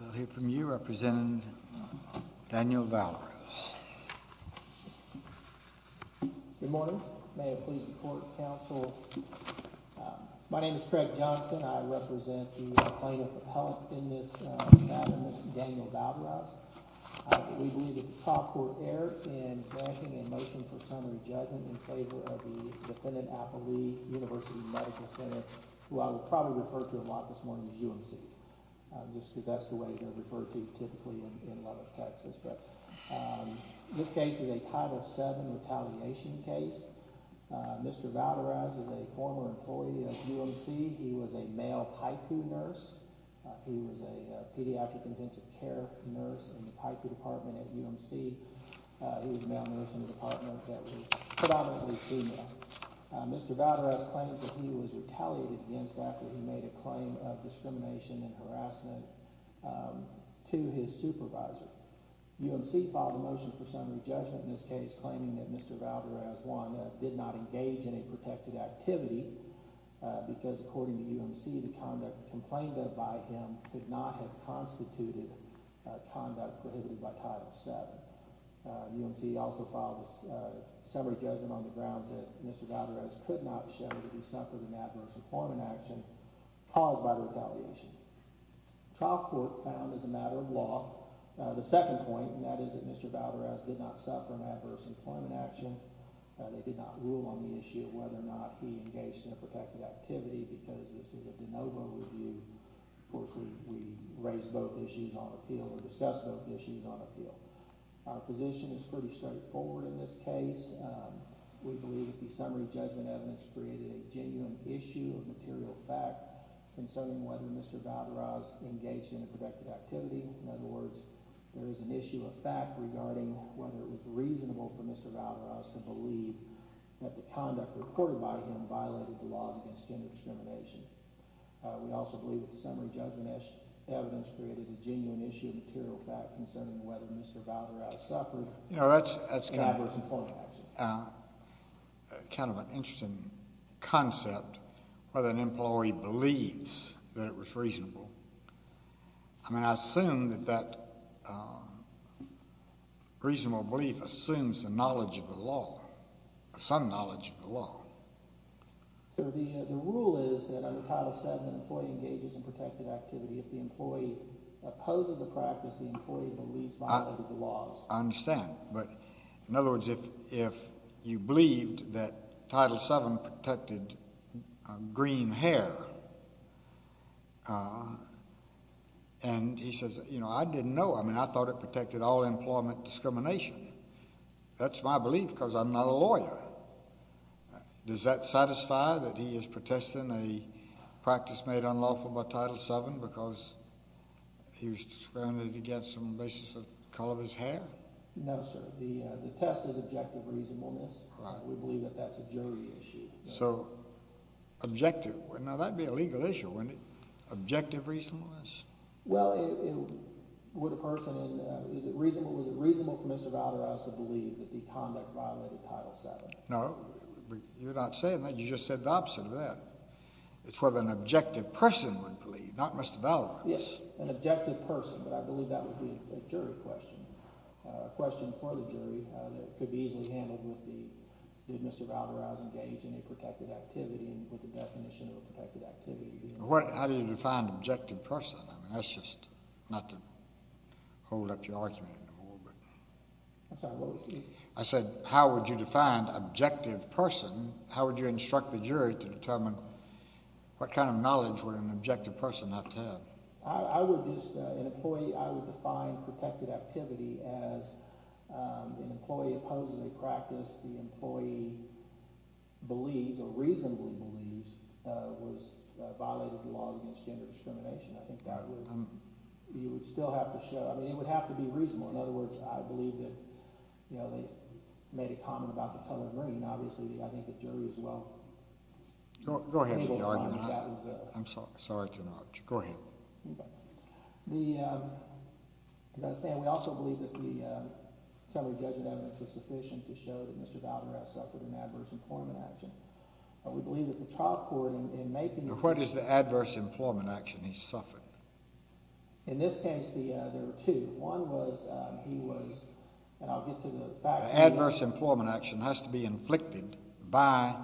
We'll hear from you, Representative Daniel Valdez. Good morning. May it please the Court, Counsel. My name is Craig Johnston. I represent the plaintiff of health in this matter, Mr. Daniel Valdez. We believe that the trial court erred in granting a motion for summary judgment in favor of the defendant, Appalee University Medical Center, who I will probably refer to a lot this morning as UMC, just because that's the way they're referred to typically in a lot of cases. This case is a Title VII retaliation case. Mr. Valdez is a former employee at UMC. He was a male PICU nurse. He was a pediatric intensive care nurse in the PICU department at UMC. He was a male nurse in a department that was predominantly female. Mr. Valdez claims that he was retaliated against after he made a claim of discrimination and harassment to his supervisor. UMC filed a motion for summary judgment in this case, claiming that Mr. Valdez, one, did not engage in a protected activity because, according to UMC, the conduct complained of by him could not have constituted conduct prohibited by Title VII. UMC also filed a summary judgment on the grounds that Mr. Valdez could not show that he suffered an adverse employment action caused by the retaliation. The trial court found, as a matter of law, the second point, and that is that Mr. Valdez did not suffer an adverse employment action. They did not rule on the issue of whether or not he engaged in a protected activity because this is a de novo review. Of course, we raised both issues on appeal, or discussed both issues on appeal. Our position is pretty straightforward in this case. We believe that the summary judgment evidence created a genuine issue of material fact concerning whether Mr. Valdez engaged in a protected activity. In other words, there is an issue of fact regarding whether it was reasonable for Mr. Valdez to believe that the conduct reported by him violated the laws against gender discrimination. We also believe that the summary judgment evidence created a genuine issue of material fact concerning whether Mr. Valdez suffered an adverse employment action. You know, that's kind of an interesting concept, whether an employee believes that it was reasonable. I mean, I assume that that reasonable belief assumes the knowledge of the law, some knowledge of the law. So the rule is that under Title VII, an employee engages in protected activity. If the employee opposes the practice, the employee believes violated the laws. I understand, but in other words, if you believed that Title VII protected green hair, and he says, you know, I didn't know. I mean, I thought it protected all employment discrimination. That's my belief because I'm not a lawyer. Does that satisfy that he is protesting a practice made unlawful by Title VII because he was discriminated against on the basis of the color of his hair? No, sir. The test is objective reasonableness. We believe that that's a jury issue. So, objective. Now, that would be a legal issue, wouldn't it? Objective reasonableness? Well, it would a person, and is it reasonable for Mr. Valdez to believe that the conduct violated Title VII? No, but you're not saying that. You just said the opposite of that. It's whether an objective person would believe, not Mr. Valdez. Yes, an objective person, but I believe that would be a jury question, a question for the jury that could be easily handled with the, did Mr. Valdez engage in a protected activity and with the definition of a protected activity. How do you define objective person? I mean, that's just not to hold up your argument anymore, but. I'm sorry, what was that? I said, how would you define objective person? How would you instruct the jury to determine what kind of knowledge would an objective person have to have? I would just, an employee, I would define protected activity as an employee opposes a practice the employee believes or reasonably believes was violated the laws against gender discrimination. I think that would, you would still have to show, I mean, it would have to be reasonable. In other words, I believe that, you know, they made a comment about the color green. Obviously, I think the jury as well. Go ahead with the argument. I'm sorry to interrupt you. Go ahead. The, as I was saying, we also believe that the summary judgment evidence was sufficient to show that Mr. Valdez suffered an adverse employment action. We believe that the child court in making. What is the adverse employment action he suffered? In this case, the, there were two. One was, he was, and I'll get to the facts. Adverse employment action has to be inflicted by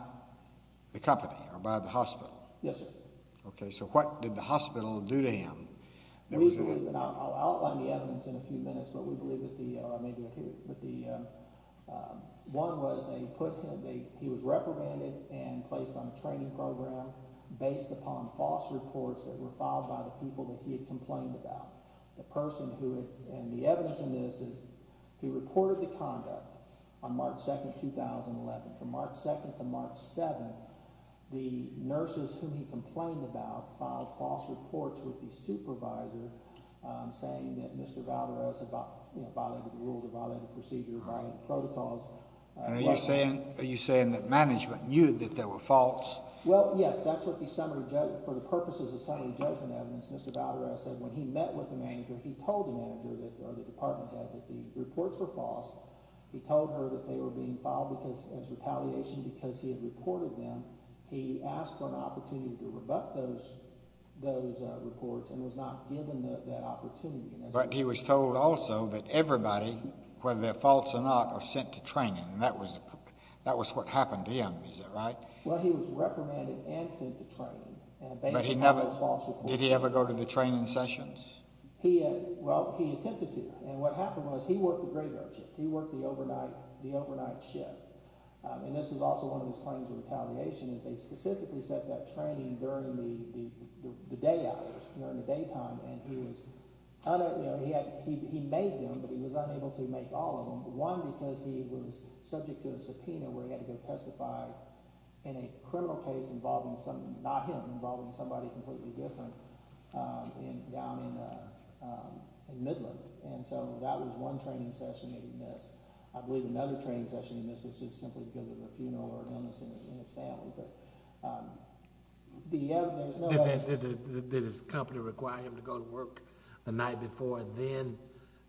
the company or by the hospital. Yes, sir. Okay. So what did the hospital do to him? I'll outline the evidence in a few minutes, but we believe that the, or I may do it here, but the one was they put him, he was reprimanded and placed on a training program based upon false reports that were filed by the people that he had complained about. The person who had, and the evidence in this is he reported the conduct on March 2nd, 2011 from March 2nd to March 7th. The nurses whom he complained about filed false reports with the supervisor, um, saying that Mr. Valdez about, you know, violated the rules of violating the procedure, violating the protocols. Are you saying, are you saying that management knew that there were faults? Well, yes, that's what the summary judge, for the purposes of summary judgment evidence, Mr. Valdez said when he met with the manager, he told the manager that, or the department head, that the reports were false. He told her that they were being filed because, as retaliation because he had reported them. He asked for an opportunity to rebut those, those, uh, reports and was not given that, that opportunity. But he was told also that everybody, whether they're false or not, are sent to training, and that was, that was what happened to him, is that right? Well, he was reprimanded and sent to training. But he never, did he ever go to the training sessions? He, well, he attempted to, and what happened was he worked the graveyard shift. He worked the overnight, the overnight shift. Um, and this was also one of his claims of retaliation is they specifically set that training during the, the, the day hours, during the daytime, and he was, you know, he had, he, he made them, but he was unable to make all of them. One, because he was subject to a subpoena where he had to go testify in a criminal case involving some, not him, involving somebody completely different, um, in, down in, uh, um, in Midland. And so that was one training session that he missed. I believe another training session he missed was just simply because of a funeral or illness in his family. But, um, the other, there's no other. Did, did, did his company require him to go to work the night before and then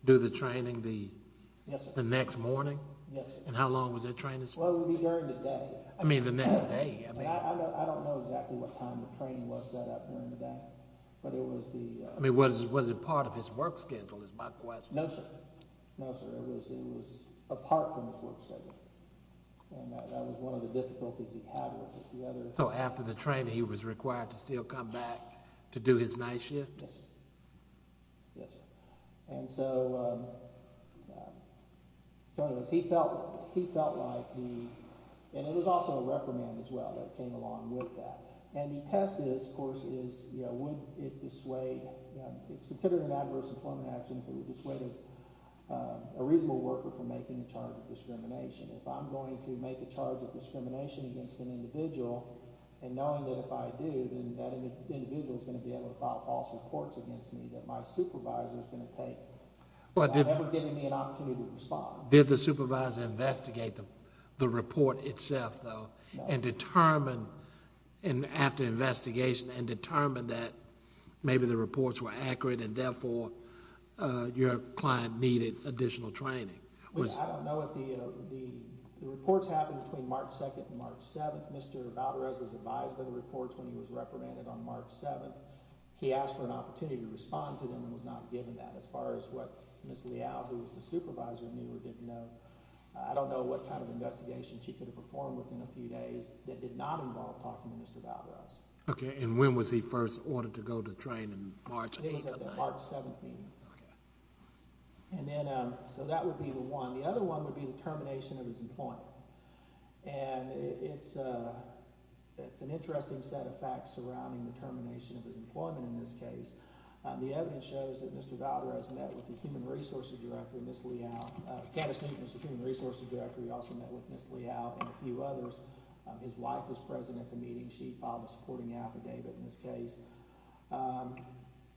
do the training the, the next morning? Yes, sir. And how long was that training? Well, it would be during the day. I mean, the next day. I don't know exactly what time the training was set up during the day, but it was the, uh. I mean, was, was it part of his work schedule is my question. No, sir. No, sir. It was, it was apart from his work schedule. And that, that was one of the difficulties he had with the other. So after the training, he was required to still come back to do his night shift? Yes, sir. Yes, sir. And so, um, um, so anyways, he felt, he felt like the, and it was also a reprimand as well that came along with that. And the test is, of course, is, you know, would it dissuade, um, it's considered an adverse employment action if it would dissuade a, a reasonable worker from making a charge of discrimination. If I'm going to make a charge of discrimination against an individual, and knowing that if I do, then that individual is going to be able to file false reports against me that my supervisor is going to take. Well, did. Without ever giving me an opportunity to respond. Did the supervisor investigate the, the report itself though? No. And determine, and after investigation, and determine that maybe the reports were accurate and therefore, uh, your client needed additional training? I don't know if the, uh, the, the reports happened between March 2nd and March 7th. Mr. Valderez was advised of the reports when he was reprimanded on March 7th. He asked for an opportunity to respond to them and was not given that. As far as what Ms. Leal, who was the supervisor, knew or didn't know. I don't know what kind of investigation she could have performed within a few days that did not involve talking to Mr. Valderez. Okay, and when was he first ordered to go to train in March 8th? It was at the March 7th meeting. Okay. And then, um, so that would be the one. The other one would be the termination of his employment. And it's, uh, it's an interesting set of facts surrounding the termination of his employment in this case. Um, the evidence shows that Mr. Valderez met with the Human Resources Director, Ms. Leal. Uh, Candace Newton was the Human Resources Director. He also met with Ms. Leal and a few others. Um, his wife was present at the meeting. She filed a supporting affidavit in this case. Um,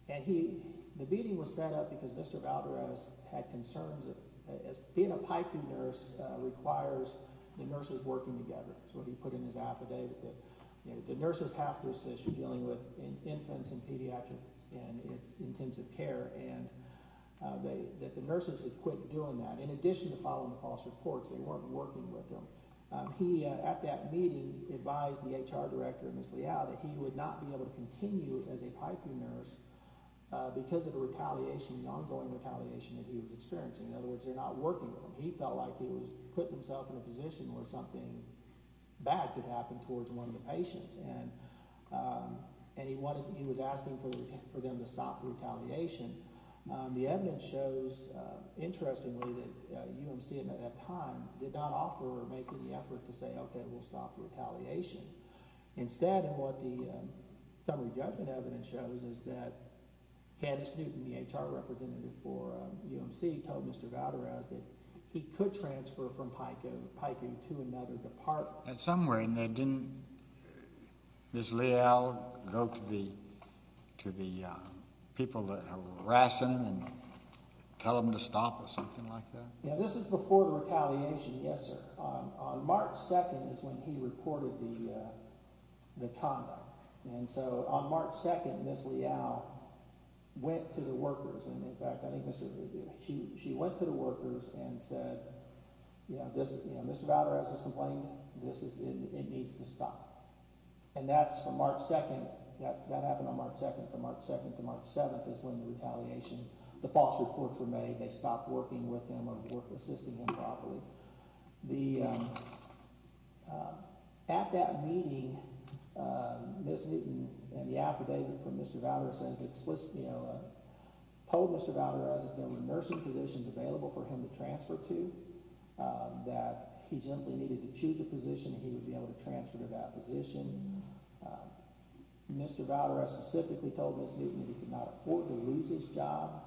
and he, the meeting was set up because Mr. Valderez had concerns that being a piping nurse requires the nurses working together. So he put in his affidavit that, you know, the nurses have to assist you dealing with infants and pediatrics and it's intensive care. And, uh, that the nurses had quit doing that in addition to following the false reports. They weren't working with them. Um, he, uh, at that meeting advised the HR Director, Ms. Leal, that he would not be able to continue as a piping nurse, uh, because of the retaliation, the ongoing retaliation that he was experiencing. In other words, they're not working with him. He felt like he was putting himself in a position where something bad could happen towards one of the patients. And, um, and he wanted, he was asking for them to stop the retaliation. Um, the evidence shows, uh, interestingly that, uh, UMC at that time did not offer or make any effort to say, okay, we'll stop the retaliation. Instead, and what the, um, summary judgment evidence shows is that Candace Newton, the HR representative for, um, UMC, told Mr. Valderez that he could transfer from piping to another department. Well, at some point, didn't Ms. Leal go to the, to the, uh, people that were harassing him and tell them to stop or something like that? Yeah, this is before the retaliation. Yes, sir. Um, on March 2nd is when he reported the, uh, the conduct. And so, on March 2nd, Ms. Leal went to the workers. And, in fact, I think she went to the workers and said, you know, Mr. Valderez is complaining. This is, it needs to stop. And that's from March 2nd. That happened on March 2nd. From March 2nd to March 7th is when the retaliation, the false reports were made. They stopped working with him or assisting him properly. So, the, um, uh, at that meeting, uh, Ms. Newton and the affidavit from Mr. Valderez says explicitly, you know, uh, told Mr. Valderez that there were nursing positions available for him to transfer to. Uh, that he simply needed to choose a position and he would be able to transfer to that position. Uh, Mr. Valderez specifically told Ms. Newton that he could not afford to lose his job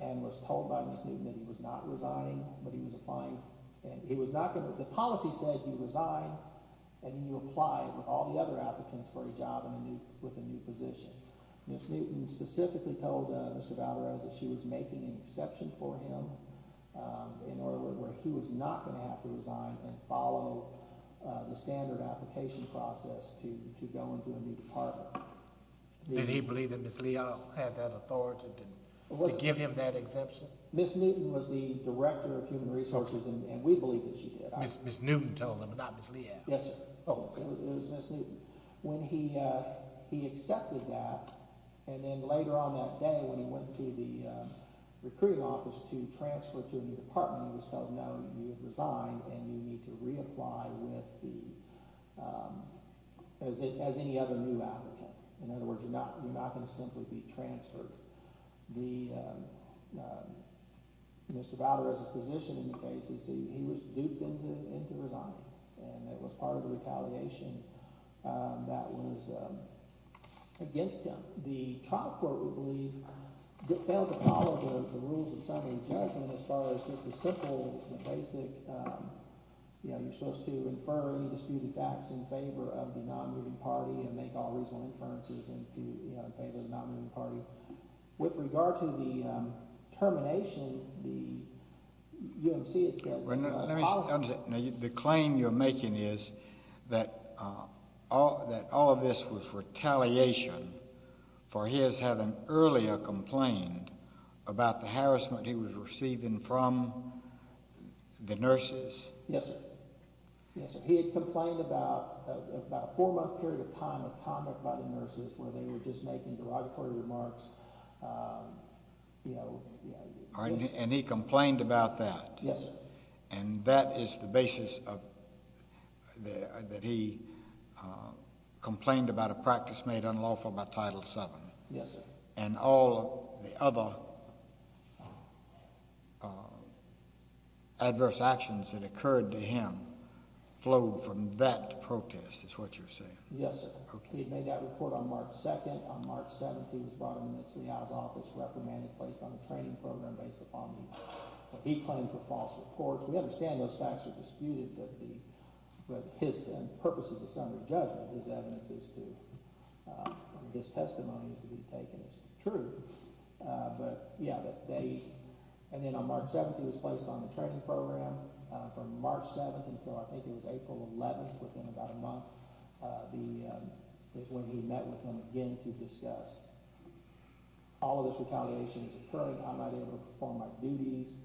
and was told by Ms. Newton that he was not resigning, but he was applying. And he was not going to, the policy said he would resign and he would apply with all the other applicants for a job in a new, with a new position. Ms. Newton specifically told, uh, Mr. Valderez that she was making an exception for him, um, in order where he was not going to have to resign and follow, uh, the standard application process to, to go into a new department. Did he believe that Ms. Leal had that authority to give him that exception? Ms. Newton was the Director of Human Resources and we believe that she did. Ms. Newton told him, not Ms. Leal? Yes, oh, it was Ms. Newton. When he, uh, he accepted that and then later on that day when he went to the, um, recruiting office to transfer to a new department he was told no, you have resigned and you need to reapply with the, um, as any other new applicant. In other words, you're not, you're not going to simply be transferred. The, um, um, Mr. Valderez's position in the case is he, he was duped into, into resigning and it was part of the retaliation, um, that was, um, against him. The, the trial court, we believe, failed to follow the, the rules of summary judgment as far as just the simple, the basic, um, you know, you're supposed to infer any disputed facts in favor of the non-moving party and make all reasonable inferences into, you know, in favor of the non-moving party. So, with regard to the, um, termination, the UMC had said. Let me, let me, the claim you're making is that, uh, all, that all of this was retaliation for his having earlier complained about the harassment he was receiving from the nurses. Yes, sir. Yes, sir. He had complained about, about a four-month period of time of conduct by the nurses where they were just making derogatory remarks, um, you know. And he complained about that. Yes, sir. And that is the basis of the, that he, uh, complained about a practice made unlawful by Title VII. Yes, sir. And all the other, uh, adverse actions that occurred to him flowed from that protest is what you're saying. Yes, sir. He had made that report on March 2nd. On March 7th, he was brought into the city hall's office, reprimanded, placed on a training program based upon what he claimed were false reports. We understand those facts are disputed, but the, but his, and the purposes of some of the judgment, his evidence is to, uh, his testimony is to be taken as true. Uh, but, yeah, that they, and then on March 7th, he was placed on the training program. Uh, from March 7th until I think it was April 11th, within about a month, uh, the, um, is when he met with them again to discuss all of this retaliation is occurring. I'm not able to perform my duties.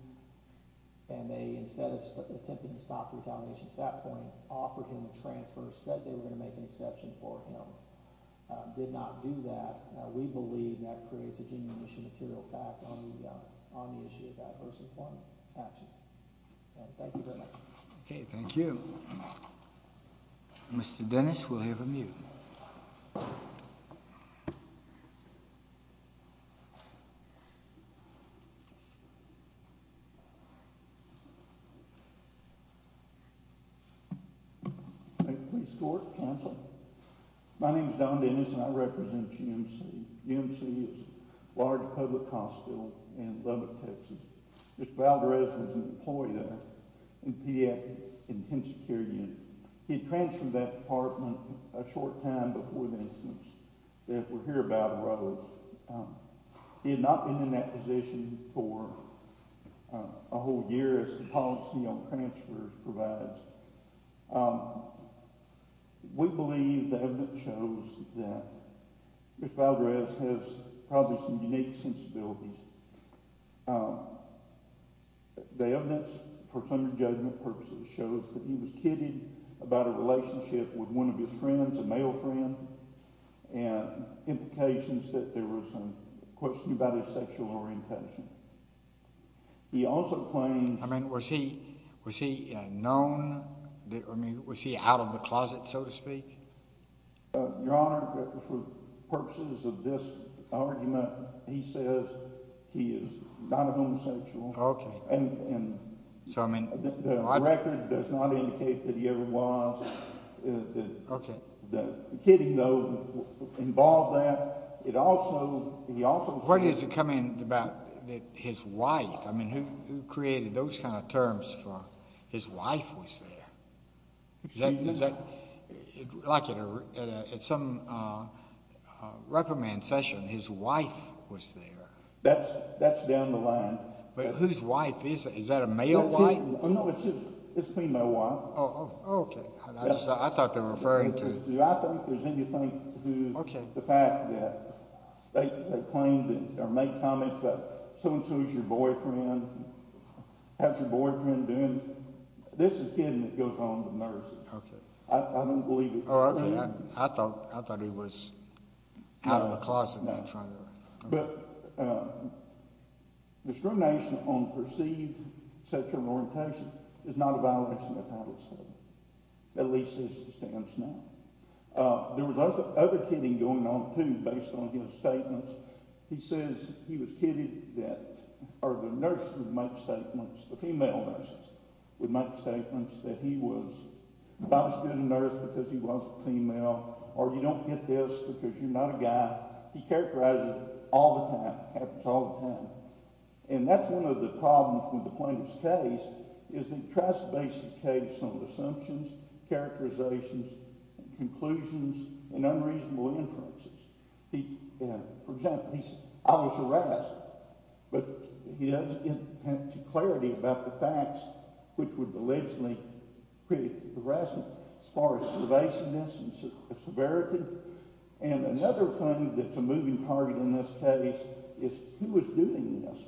And they, instead of attempting to stop the retaliation at that point, offered him a transfer, said they were going to make an exception for him. Uh, did not do that. Uh, we believe that creates a genuine issue material fact on the, uh, on the issue of adverse employment action. Thank you very much. Okay, thank you. Mr. Dennis, we'll have a mute. Okay. My name is Don Dennis and I represent GMC. GMC is large public hospital in Lubbock, Texas. Mr. Valderez was an employee there in the pediatric intensive care unit. He transferred that department a short time before the incidents that we're here about arose. Um, he had not been in that position for, uh, a whole year as the policy on transfers provides. Um, we believe the evidence shows that Mr. Valderez has probably some unique sensibilities. Um, the evidence for some judgment purposes shows that he was kidding about a relationship with one of his friends, a male friend, and implications that there was a question about his sexual orientation. He also claims... I mean, was he, was he known? I mean, was he out of the closet, so to speak? Your Honor, for purposes of this argument, he says he is not a homosexual. Okay. And, and... So, I mean... The record does not indicate that he ever was. Okay. The kidding, though, involved that. It also, he also... Where does it come in about his wife? I mean, who created those kind of terms for his wife was there? Is that, like at some reprimand session, his wife was there? That's down the line. But whose wife is that? Is that a male wife? No, it's his female wife. Oh, okay. I thought they were referring to... Do I think there's anything to do with the fact that they claimed or made comments about so-and-so is your boyfriend, has your boyfriend been... This is kidding that goes on with nurses. Okay. I don't believe it. Oh, okay. I thought, I thought he was out of the closet. No. That's right. But discrimination on perceived sexual orientation is not a violation of the title statement. At least as it stands now. There was other kidding going on, too, based on his statements. He says he was kidding that, or the nurse would make statements, the female nurses would make statements that he was not a student nurse because he wasn't female or you don't get this because you're not a guy. He characterized it all the time. It happens all the time. And that's one of the problems with the plaintiff's case is that he tries to base his case on assumptions, characterizations, conclusions, and unreasonable inferences. For example, he says, I was harassed, but he doesn't have clarity about the facts, which would allegedly create harassment as far as pervasiveness and severity. And another claim that's a moving target in this case is who was doing this?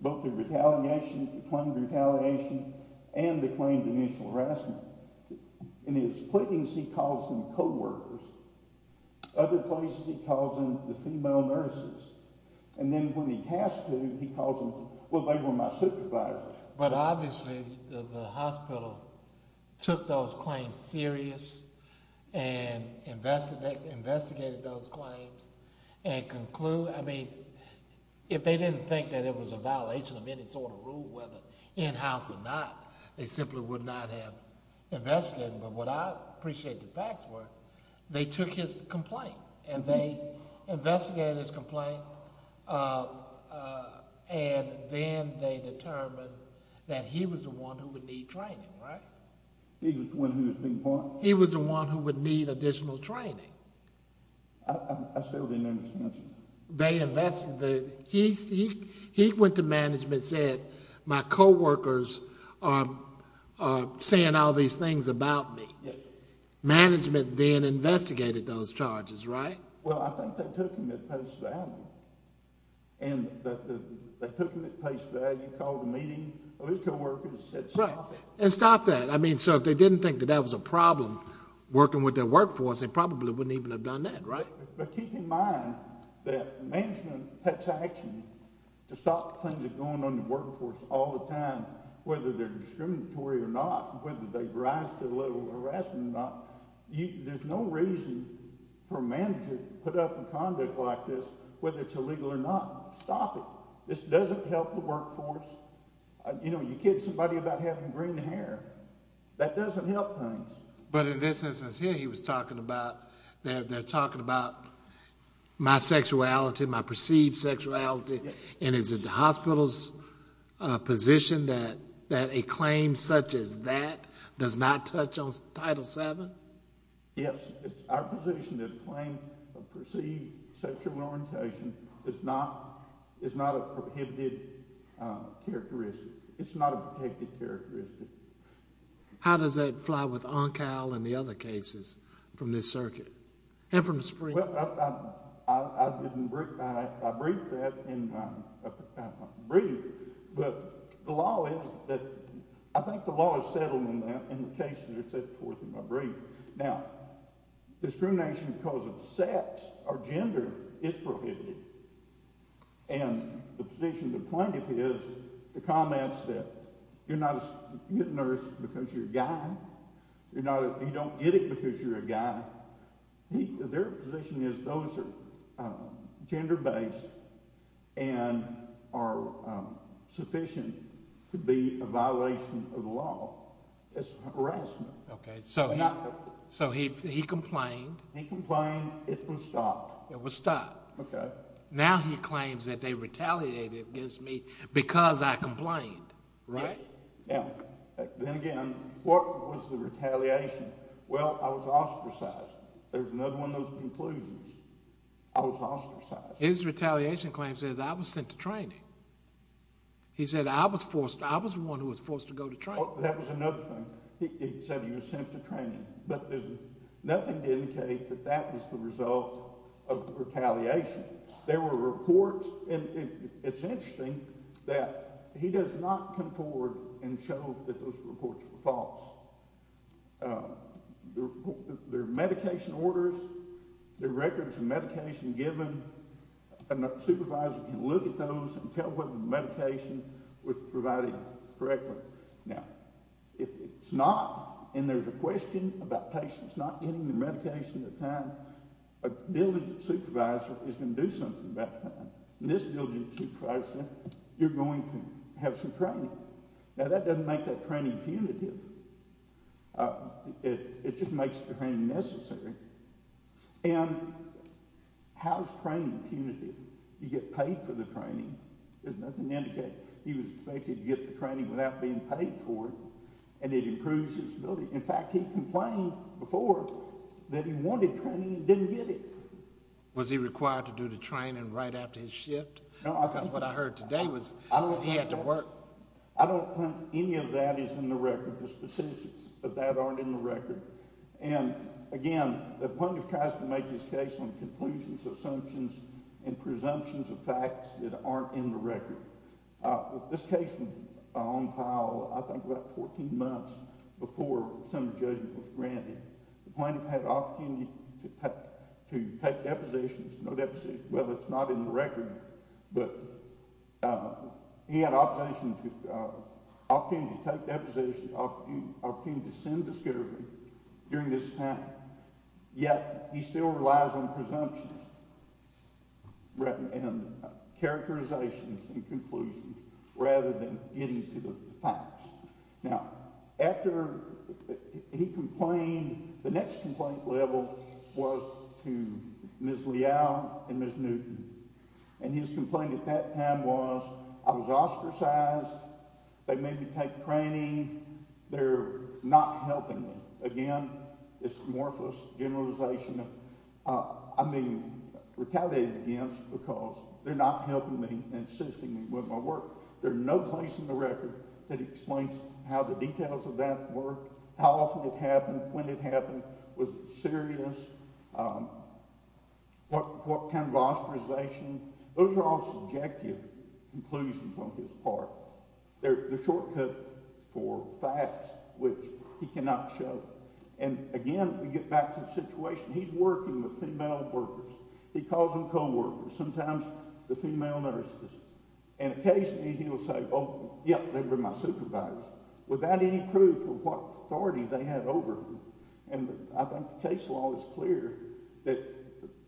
Both the retaliation, the claimed retaliation, and the claimed initial harassment. In his pleadings, he calls them co-workers. Other places, he calls them the female nurses. And then when he has to, he calls them, well, they were my supervisors. But obviously, the hospital took those claims serious and investigated those claims and concluded. I mean, if they didn't think that it was a violation of any sort of rule, whether in-house or not, they simply would not have investigated them. But what I appreciate the facts were they took his complaint and they investigated his complaint. And then they determined that he was the one who would need training, right? He was the one who was being punished? He was the one who would need additional training. I still didn't understand. They investigated. He went to management and said, my co-workers are saying all these things about me. Management then investigated those charges, right? Well, I think they took them at face value. And they took them at face value, called a meeting. Those co-workers said stop it. And stop that. I mean, so if they didn't think that that was a problem working with their workforce, they probably wouldn't even have done that, right? But keep in mind that management takes action to stop things from going on in the workforce all the time, whether they're discriminatory or not, whether they rise to the level of harassment or not. There's no reason for a manager to put up with conduct like this, whether it's illegal or not. Stop it. This doesn't help the workforce. You know, you kid somebody about having green hair. That doesn't help things. But in this instance here he was talking about, they're talking about my sexuality, my perceived sexuality. And is it the hospital's position that a claim such as that does not touch on Title VII? Yes. It's our position that a claim of perceived sexual orientation is not a prohibited characteristic. It's not a protected characteristic. How does that fly with ONCAL and the other cases from this circuit and from the Supreme Court? Well, I didn't—I briefed that in my brief, but the law is that—I think the law is settled in that, and the cases are set forth in my brief. Now, discrimination because of sex or gender is prohibited. And the position of the plaintiff is, the comments that you're not a nurse because you're a guy, you're not—you don't get it because you're a guy, their position is those are gender-based and are sufficient to be a violation of the law. It's harassment. Okay, so he complained. He complained. It was stopped. It was stopped. Okay. Now he claims that they retaliated against me because I complained. Right. Yeah. Then again, what was the retaliation? Well, I was ostracized. There's another one of those conclusions. I was ostracized. His retaliation claim says I was sent to training. He said I was forced—I was the one who was forced to go to training. That was another thing. He said he was sent to training. But there's nothing to indicate that that was the result of retaliation. There were reports, and it's interesting that he does not come forward and show that those reports were false. There are medication orders. There are records of medication given. A supervisor can look at those and tell whether the medication was provided correctly. Now, if it's not and there's a question about patients not getting their medication in time, a diligent supervisor is going to do something about that. And this diligent supervisor said, you're going to have some training. Now, that doesn't make that training punitive. It just makes the training necessary. And how is training punitive? You get paid for the training. There's nothing to indicate. He was expected to get the training without being paid for it, and it improves his ability. In fact, he complained before that he wanted training and didn't get it. Was he required to do the training right after his shift? Because what I heard today was— I don't think any of that is in the record. The specifics of that aren't in the record. And, again, the plaintiff tries to make his case on conclusions, assumptions, and presumptions of facts that aren't in the record. This case was on file, I think, about 14 months before assembly judgment was granted. The plaintiff had the opportunity to take depositions. No depositions. Well, it's not in the record. But he had an opportunity to take depositions, an opportunity to send discovery during this time. Yet he still relies on presumptions and characterizations and conclusions rather than getting to the facts. Now, after he complained, the next complaint level was to Ms. Leal and Ms. Newton. And his complaint at that time was, I was ostracized. They made me take training. They're not helping me. Again, it's amorphous generalization that I'm being retaliated against because they're not helping me and assisting me with my work. There's no place in the record that explains how the details of that were, how often it happened, when it happened, was it serious, what kind of ostracization. Those are all subjective conclusions on his part. They're the shortcut for facts, which he cannot show. And, again, we get back to the situation. He's working with female workers. He calls them co-workers, sometimes the female nurses. And occasionally he will say, oh, yep, they were my supervisors, without any proof of what authority they had over him. And I think the case law is clear that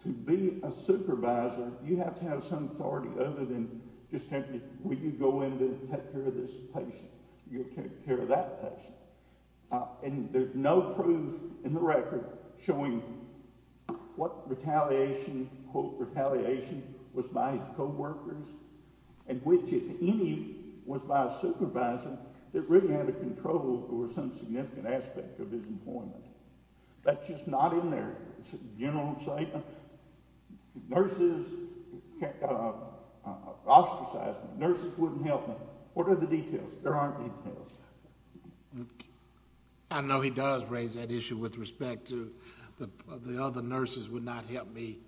to be a supervisor, you have to have some authority other than just simply, will you go in and take care of this patient? You'll take care of that patient. And there's no proof in the record showing what retaliation, quote, retaliation, was by his co-workers and which, if any, was by a supervisor that really had a control over some significant aspect of his employment. That's just not in there. It's a general statement. Nurses ostracized me. Nurses wouldn't help me. What are the details? There aren't details. I know he does raise that issue with respect to the other nurses would not help me,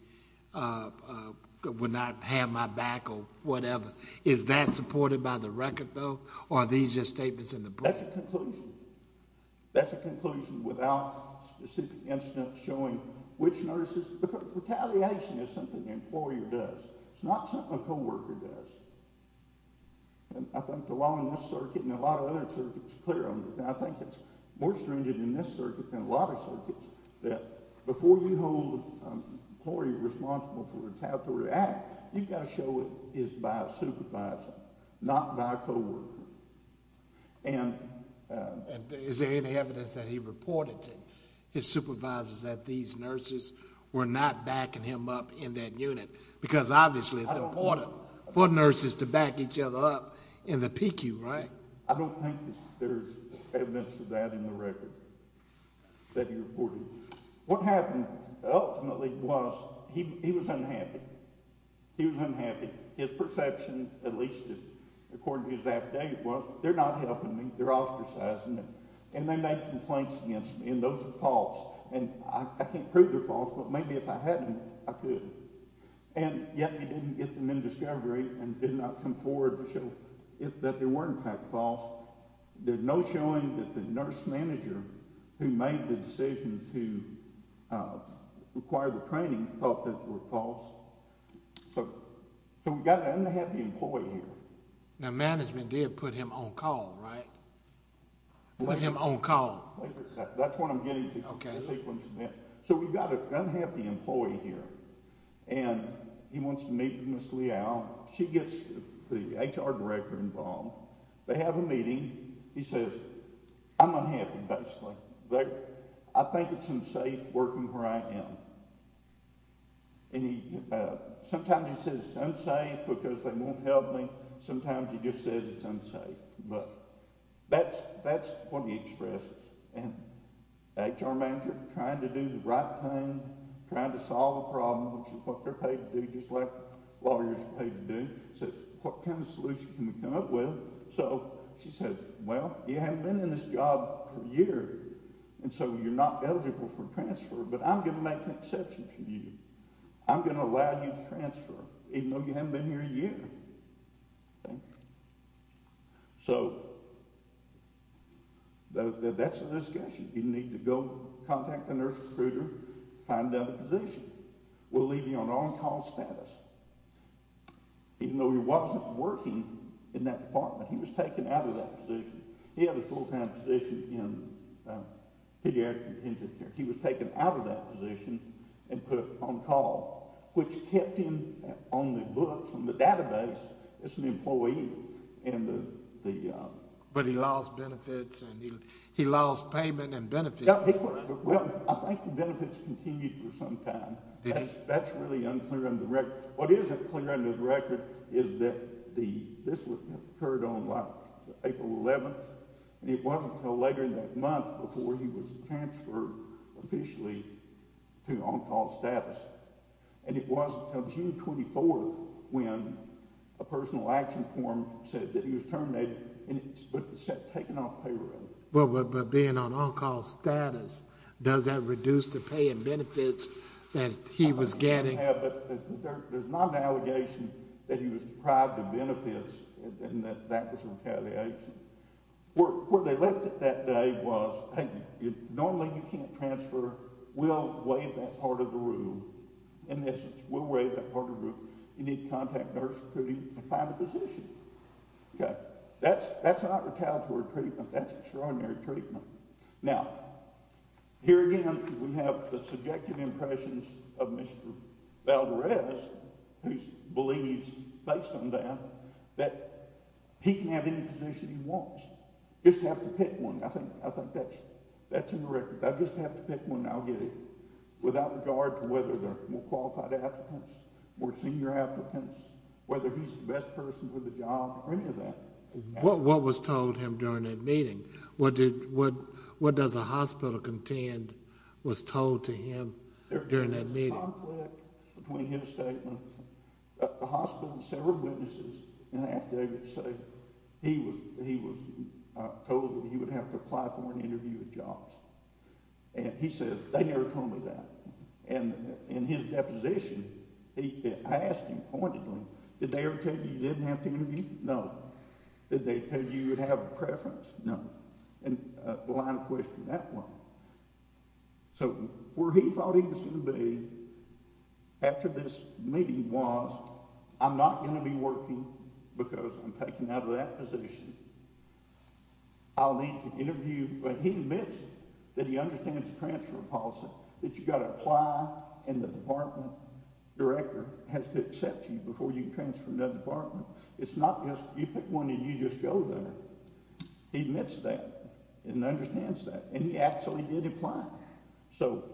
would not have my back or whatever. Is that supported by the record, though, or are these just statements in the press? That's a conclusion. That's a conclusion without specific instance showing which nurses. Because retaliation is something the employer does. It's not something a co-worker does. And I think the law in this circuit and a lot of other circuits is clear on this. And I think it's more stringent in this circuit than a lot of circuits that before you hold a employee responsible for retaliatory act, you've got to show it is by a supervisor, not by a co-worker. And is there any evidence that he reported to his supervisors that these nurses were not backing him up in that unit? Because obviously it's important for nurses to back each other up in the PQ, right? I don't think there's evidence of that in the record that he reported. What happened ultimately was he was unhappy. He was unhappy. His perception, at least according to his affidavit, was they're not helping me. They're ostracizing me. And they made complaints against me, and those are false. And I can't prove they're false, but maybe if I hadn't, I could. And yet he didn't get them in discovery and did not come forward to show that they were in fact false. There's no showing that the nurse manager who made the decision to require the training thought that they were false. So we've got an unhappy employee here. Now management did put him on call, right? Put him on call. That's what I'm getting to from the sequence of events. So we've got an unhappy employee here, and he wants to meet with Ms. Leal. She gets the HR director involved. They have a meeting. He says, I'm unhappy, basically. I think it's unsafe working where I am. Sometimes he says it's unsafe because they won't help me. Sometimes he just says it's unsafe. But that's what he expresses. And the HR manager, trying to do the right thing, trying to solve the problem, which is what they're paid to do, just like lawyers are paid to do, says, what kind of solution can we come up with? So she says, well, you haven't been in this job for a year, and so you're not eligible for transfer. But I'm going to make an exception for you. I'm going to allow you to transfer even though you haven't been here a year. So that's the discussion. You need to go contact the nurse recruiter, find another position. We'll leave you on on-call status. Even though he wasn't working in that department, he was taken out of that position. He had a full-time position in pediatric and contingent care. He was taken out of that position and put on call, which kept him on the books, on the database as an employee. But he lost benefits and he lost payment and benefits. Well, I think the benefits continued for some time. That's really unclear under the record. What is clear under the record is that this occurred on, like, April 11th. It wasn't until later in that month before he was transferred officially to on-call status. And it wasn't until June 24th when a personal action form said that he was terminated, but it said taken off payroll. But being on on-call status, does that reduce the pay and benefits that he was getting? There's not an allegation that he was deprived of benefits and that that was retaliation. Where they left it that day was, hey, normally you can't transfer. We'll waive that part of the rule. In essence, we'll waive that part of the rule. You need to contact nurse recruiting to find a position. That's not retaliatory treatment. That's extraordinary treatment. Now, here again we have the subjective impressions of Mr. Valderez, who believes, based on that, that he can have any position he wants. Just have to pick one. I think that's in the record. If I just have to pick one, I'll get it. Without regard to whether they're more qualified applicants, more senior applicants, whether he's the best person for the job or any of that. What was told him during that meeting? What does a hospital contend was told to him during that meeting? There was a conflict between his statement at the hospital and several witnesses. After they would say he was told that he would have to apply for an interview at Jobs. He says, they never told me that. In his deposition, I asked him, pointed to him, did they ever tell you you didn't have to interview? No. Did they tell you you would have a preference? No. The line of question, that one. So where he thought he was going to be after this meeting was, I'm not going to be working because I'm taken out of that position. I'll need to interview. But he admits that he understands the transfer policy, that you've got to apply, and the department director has to accept you before you can transfer to another department. It's not just you pick one and you just go there. He admits that and understands that. And he actually did apply. So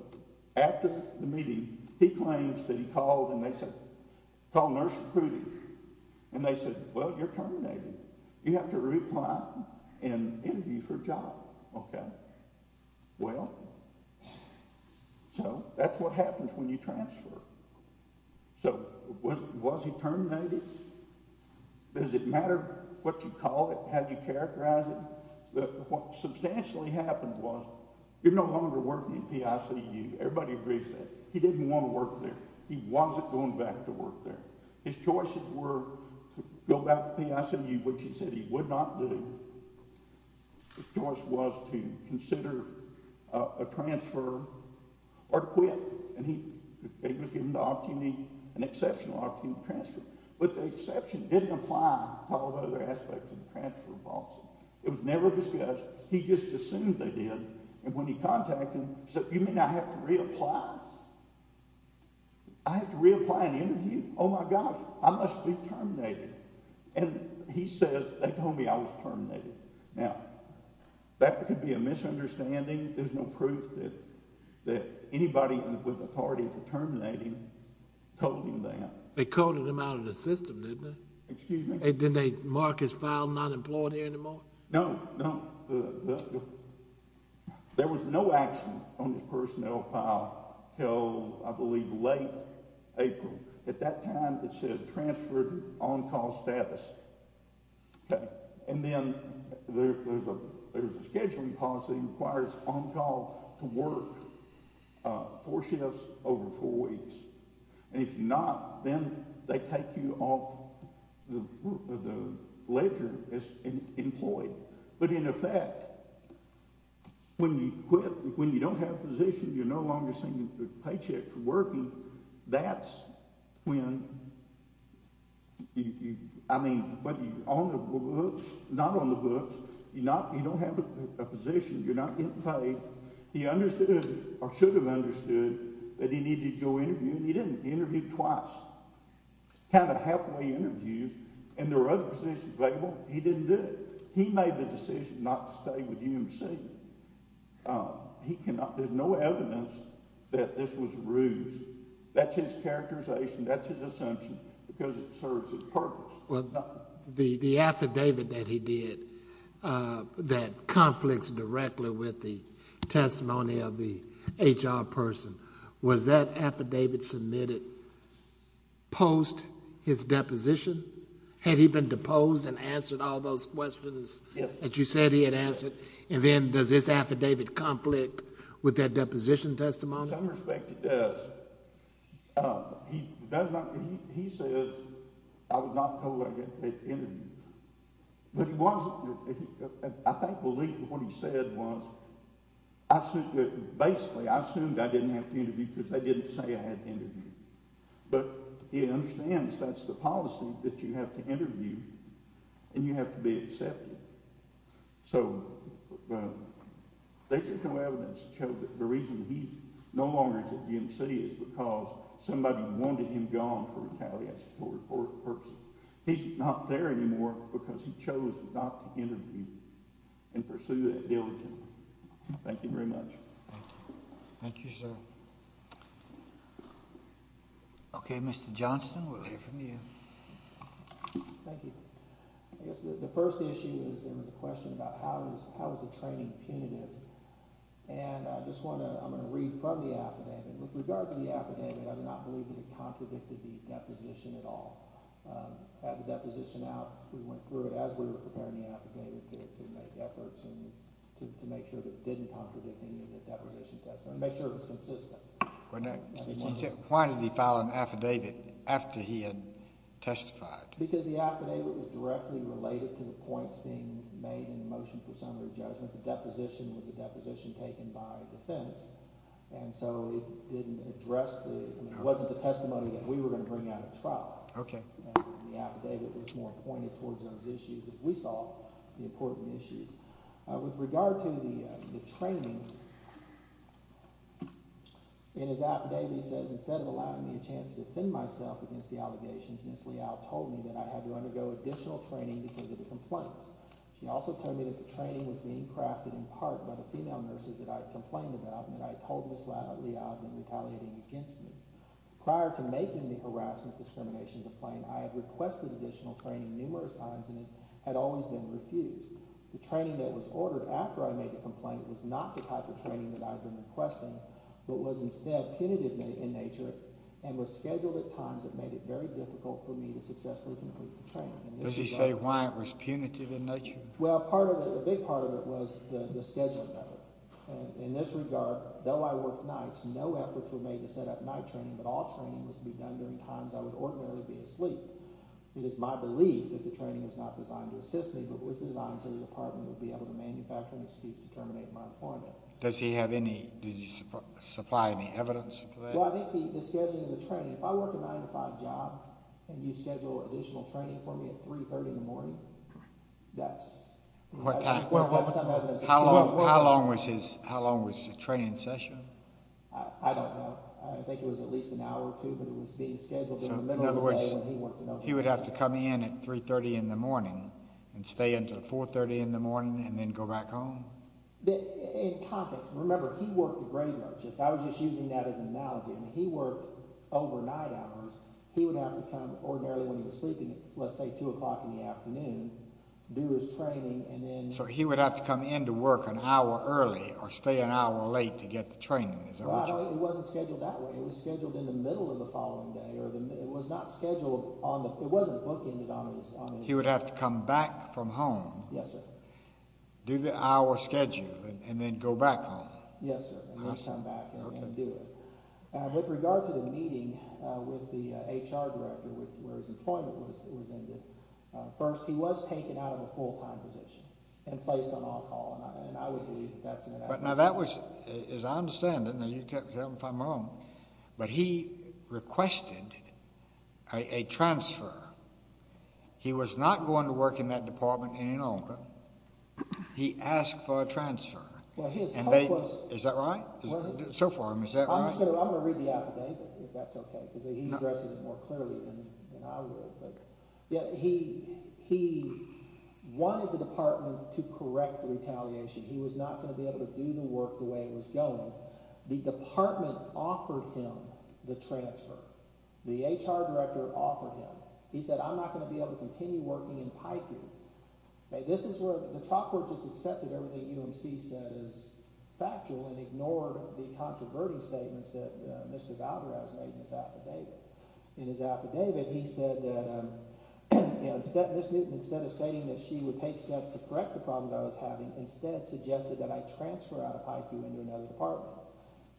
after the meeting, he claims that he called and they said, call nurse recruiting, and they said, well, you're terminated. You have to apply and interview for a job. Okay. Well, so that's what happens when you transfer. So was he terminated? Does it matter what you call it, how you characterize it? What substantially happened was you're no longer working at PICU. Everybody agrees that. He didn't want to work there. He wasn't going back to work there. His choices were to go back to PICU, which he said he would not do. His choice was to consider a transfer or quit, and he was given the opportunity, an exceptional opportunity to transfer. But the exception didn't apply to all of the other aspects of the transfer policy. It was never discussed. He just assumed they did. And when he contacted them, he said, you mean I have to reapply? I have to reapply and interview? Oh, my gosh, I must be terminated. And he says, they told me I was terminated. Now, that could be a misunderstanding. There's no proof that anybody with authority to terminate him told him that. They coded him out of the system, didn't they? Excuse me? Didn't they mark his file not employed here anymore? No, no. There was no action on his personnel file until, I believe, late April. At that time, it said transferred on-call status. And then there's a scheduling policy that requires on-call to work four shifts over four weeks. And if you're not, then they take you off the ledger as employed. But, in effect, when you quit, when you don't have a position, you're no longer seeing a paycheck for working, that's when you—I mean, but you're on the books. Not on the books. You don't have a position. You're not getting paid. He understood, or should have understood, that he needed to go interview, and he didn't. He interviewed twice. Kind of halfway interviews, and there were other positions available. He didn't do it. He made the decision not to stay with UMC. He cannot—there's no evidence that this was a ruse. That's his characterization. That's his assumption because it serves his purpose. The affidavit that he did that conflicts directly with the testimony of the HR person, was that affidavit submitted post his deposition? Had he been deposed and answered all those questions that you said he had answered? And then does this affidavit conflict with that deposition testimony? In some respect, it does. He does not—he says, I was not told I had to interview. But he wasn't. I think what he said was, basically, I assumed I didn't have to interview because they didn't say I had to interview. But he understands that's the policy, that you have to interview, and you have to be accepted. So there's no evidence to show that the reason he no longer is at UMC is because somebody wanted him gone for retaliation for a person. He's not there anymore because he chose not to interview and pursue that diligently. Thank you very much. Thank you, sir. Okay, Mr. Johnston, we'll hear from you. Thank you. I guess the first issue is there was a question about how is the training punitive? And I just want to—I'm going to read from the affidavit. With regard to the affidavit, I do not believe that it contradicted the deposition at all. Had the deposition out, we went through it as we were preparing the affidavit to make efforts to make sure that it didn't contradict any of the deposition testimony, make sure it was consistent. Why did he file an affidavit after he had testified? Because the affidavit was directly related to the points being made in the motion for summary judgment. The deposition was a deposition taken by defense, and so it didn't address the—it wasn't the testimony that we were going to bring out at trial. And the affidavit was more pointed towards those issues, as we saw, the important issues. With regard to the training, in his affidavit he says, instead of allowing me a chance to defend myself against the allegations, Ms. Leal told me that I had to undergo additional training because of the complaints. She also told me that the training was being crafted in part by the female nurses that I had complained about and that I had told Ms. Leal I had been retaliating against me. Prior to making the harassment discrimination complaint, I had requested additional training numerous times, and it had always been refused. The training that was ordered after I made the complaint was not the type of training that I had been requesting, but was instead punitive in nature and was scheduled at times that made it very difficult for me to successfully complete the training. Does he say why it was punitive in nature? Well, part of it—a big part of it was the scheduling of it. In this regard, though I worked nights, no efforts were made to set up night training, but all training was to be done during times I would ordinarily be asleep. It is my belief that the training was not designed to assist me, but was designed so the Department would be able to manufacture an excuse to terminate my employment. Does he have any—does he supply any evidence for that? Well, I think the scheduling of the training—if I work a 9-to-5 job and you schedule additional training for me at 3.30 in the morning, that's— What time? How long was his—how long was the training session? I don't know. I think it was at least an hour or two, but it was being scheduled in the middle of the day— He would have to come in at 3.30 in the morning and stay until 4.30 in the morning and then go back home? In context, remember, he worked very much. If I was just using that as an analogy, he worked overnight hours. He would have to come ordinarily when he was sleeping at, let's say, 2 o'clock in the afternoon, do his training, and then— So he would have to come in to work an hour early or stay an hour late to get the training? Well, it wasn't scheduled that way. It was scheduled in the middle of the following day, or it was not scheduled on the—it wasn't bookended on the— He would have to come back from home, do the hour schedule, and then go back home? Yes, sir. Awesome. And then come back and do it. And with regard to the meeting with the HR director where his employment was ended, first, he was taken out of the full-time position and placed on off-call, and I would believe that that's an analogy. Yeah, but now that was—as I understand it, and you can tell me if I'm wrong, but he requested a transfer. He was not going to work in that department any longer. He asked for a transfer. Well, his hope was— Is that right? So far, is that right? I'm just going to—I'm going to read the affidavit, if that's okay, because he addresses it more clearly than I will. He wanted the department to correct the retaliation. He was not going to be able to do the work the way it was going. The department offered him the transfer. The HR director offered him. He said, I'm not going to be able to continue working in piping. This is where—the chalkboard just accepted everything UMC said as factual and ignored the controversial statements that Mr. Valdez made in his affidavit. He said that Ms. Newton, instead of stating that she would take steps to correct the problems I was having, instead suggested that I transfer out of piping into another department.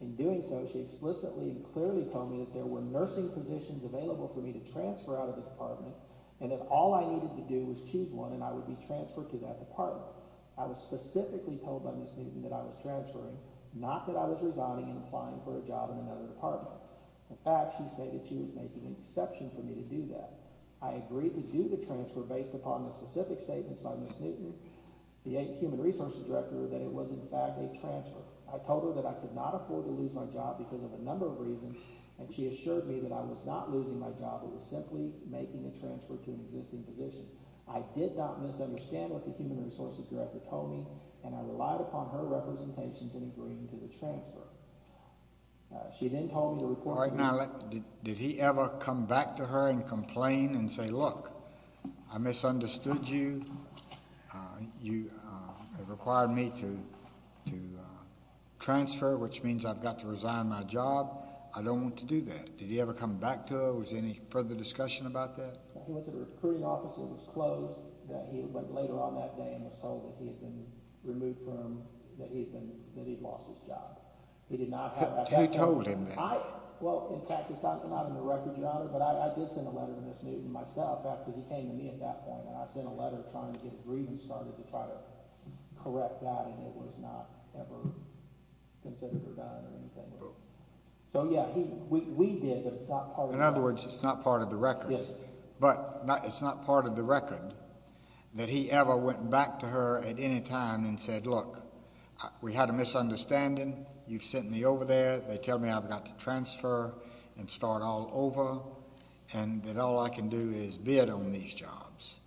In doing so, she explicitly and clearly told me that there were nursing positions available for me to transfer out of the department and that all I needed to do was choose one and I would be transferred to that department. I was specifically told by Ms. Newton that I was transferring, not that I was resigning and applying for a job in another department. In fact, she stated that she was making an exception for me to do that. I agreed to do the transfer based upon the specific statements by Ms. Newton, the HR director, that it was in fact a transfer. I told her that I could not afford to lose my job because of a number of reasons, and she assured me that I was not losing my job. It was simply making a transfer to an existing position. I did not misunderstand what the HR director told me, and I relied upon her representations in agreeing to the transfer. She then told me to report back. Did he ever come back to her and complain and say, look, I misunderstood you. You required me to transfer, which means I've got to resign my job. I don't want to do that. Did he ever come back to her? Was there any further discussion about that? He went to the recruiting office and it was closed. He went later on that day and was told that he had been removed from, that he had lost his job. He did not have that record. He told him that? Well, in fact, it's not in the record, Your Honor, but I did send a letter to Ms. Newton myself because he came to me at that point. I sent a letter trying to get agreed and started to try to correct that, and it was not ever considered or done or anything like that. So yeah, we did, but it's not part of the record. Yes, sir. But it's not part of the record that he ever went back to her at any time and said, look, we had a misunderstanding. You've sent me over there. They tell me I've got to transfer and start all over and that all I can do is bid on these jobs.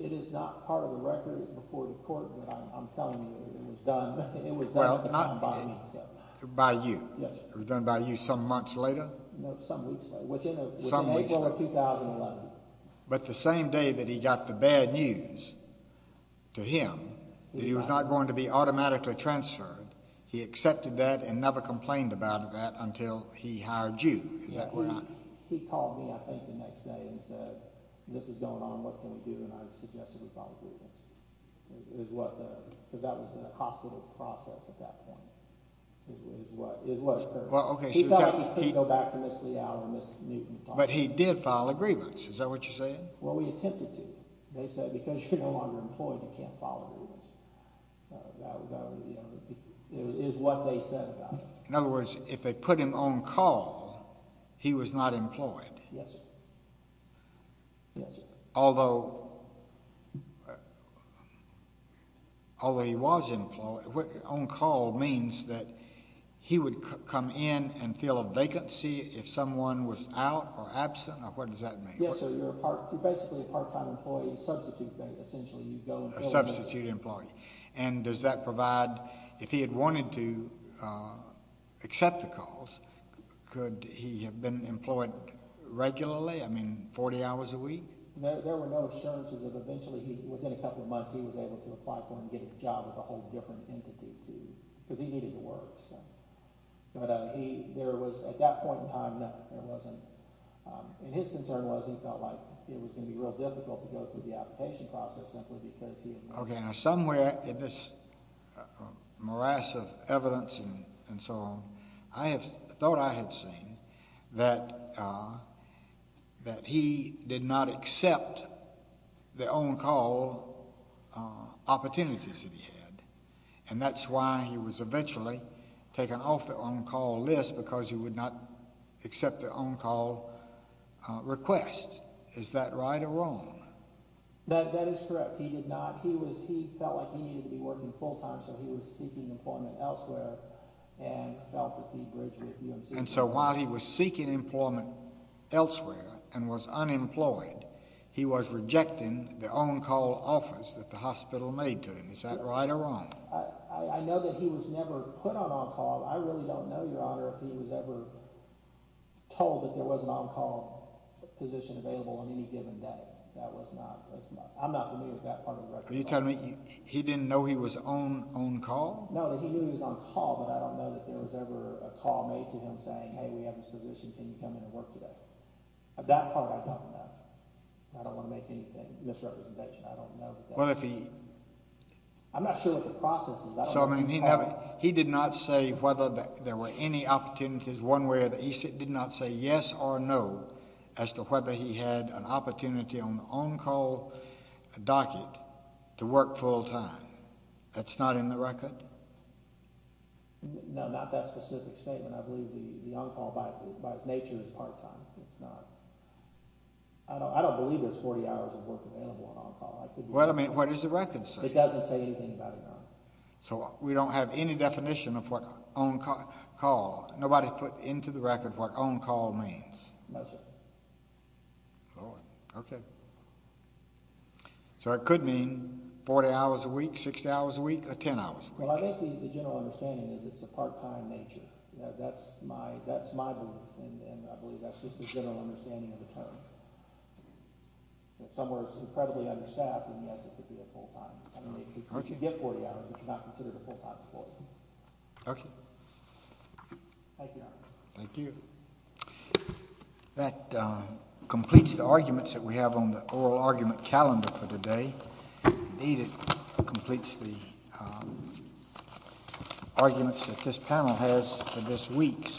It is not part of the record before the court, but I'm telling you it was done. It was done by me. By you? Yes, sir. It was done by you some months later? No, some weeks later. Within April of 2011. But the same day that he got the bad news to him that he was not going to be automatically transferred, he accepted that and never complained about that until he hired you, is that correct? He called me, I think, the next day and said, this is going on. What can we do? And I suggested we probably do this because that was in a hospital process at that point. It was, sir. He felt like he couldn't go back to Ms. Leal or Ms. Newton. But he did file a grievance. Is that what you're saying? Well, we attempted to. They said because you're no longer employed, you can't file a grievance. It is what they said about it. In other words, if they put him on call, he was not employed. Yes, sir. Although he was employed, on call means that he would come in and fill a vacancy if someone was out or absent? What does that mean? Yes, sir. You're basically a part-time employee. Substitute, essentially, you go and fill a vacancy. Substitute employee. And does that provide, if he had wanted to accept the calls, could he have been employed regularly? I mean, 40 hours a week? There were no assurances of eventually, within a couple of months, he was able to apply for and get a job with a whole different entity. Because he needed to work. But there was, at that point in time, no. There wasn't. And his concern was he felt like it was going to be real difficult to go through the application process simply because he had not. Okay. Now, somewhere in this morass of evidence and so on, I thought I had seen that he did not accept the on-call opportunities that he had. And that's why he was eventually taken off the on-call list because he would not accept the on-call request. Is that right or wrong? That is correct. He did not. He felt like he needed to be working full-time, so he was seeking employment elsewhere and felt that he bridged with UNC. And so while he was seeking employment elsewhere and was unemployed, he was rejecting the on-call offers that the hospital made to him. Is that right or wrong? I know that he was never put on on-call. I really don't know, Your Honor, if he was ever told that there was an on-call position available on any given day. I'm not familiar with that part of the record. Are you telling me he didn't know he was on-call? No, that he knew he was on-call, but I don't know that there was ever a call made to him saying, hey, we have this position. Can you come in and work today? That part I don't know. I don't want to make any misrepresentation. I don't know. Well, if he— I'm not sure what the process is. He did not say whether there were any opportunities one way or the other. He did not say yes or no as to whether he had an opportunity on the on-call docket to work full-time. That's not in the record? No, not that specific statement. I believe the on-call, by its nature, is part-time. It's not. I don't believe there's 40 hours of work available on on-call. Well, I mean, what does the record say? It doesn't say anything about it, no. So we don't have any definition of what on-call—nobody put into the record what on-call means? No, sir. Oh, okay. So it could mean 40 hours a week, 60 hours a week, or 10 hours a week. Well, I think the general understanding is it's a part-time nature. That's my belief, and I believe that's just the general understanding of the term. If someone is incredibly understaffed, then yes, it could be a full-time. If you get 40 hours, but you're not considered a full-time employee. Thank you, Your Honor. Thank you. That completes the arguments that we have on the oral argument calendar for today. Indeed, it completes the arguments that this panel has for this week.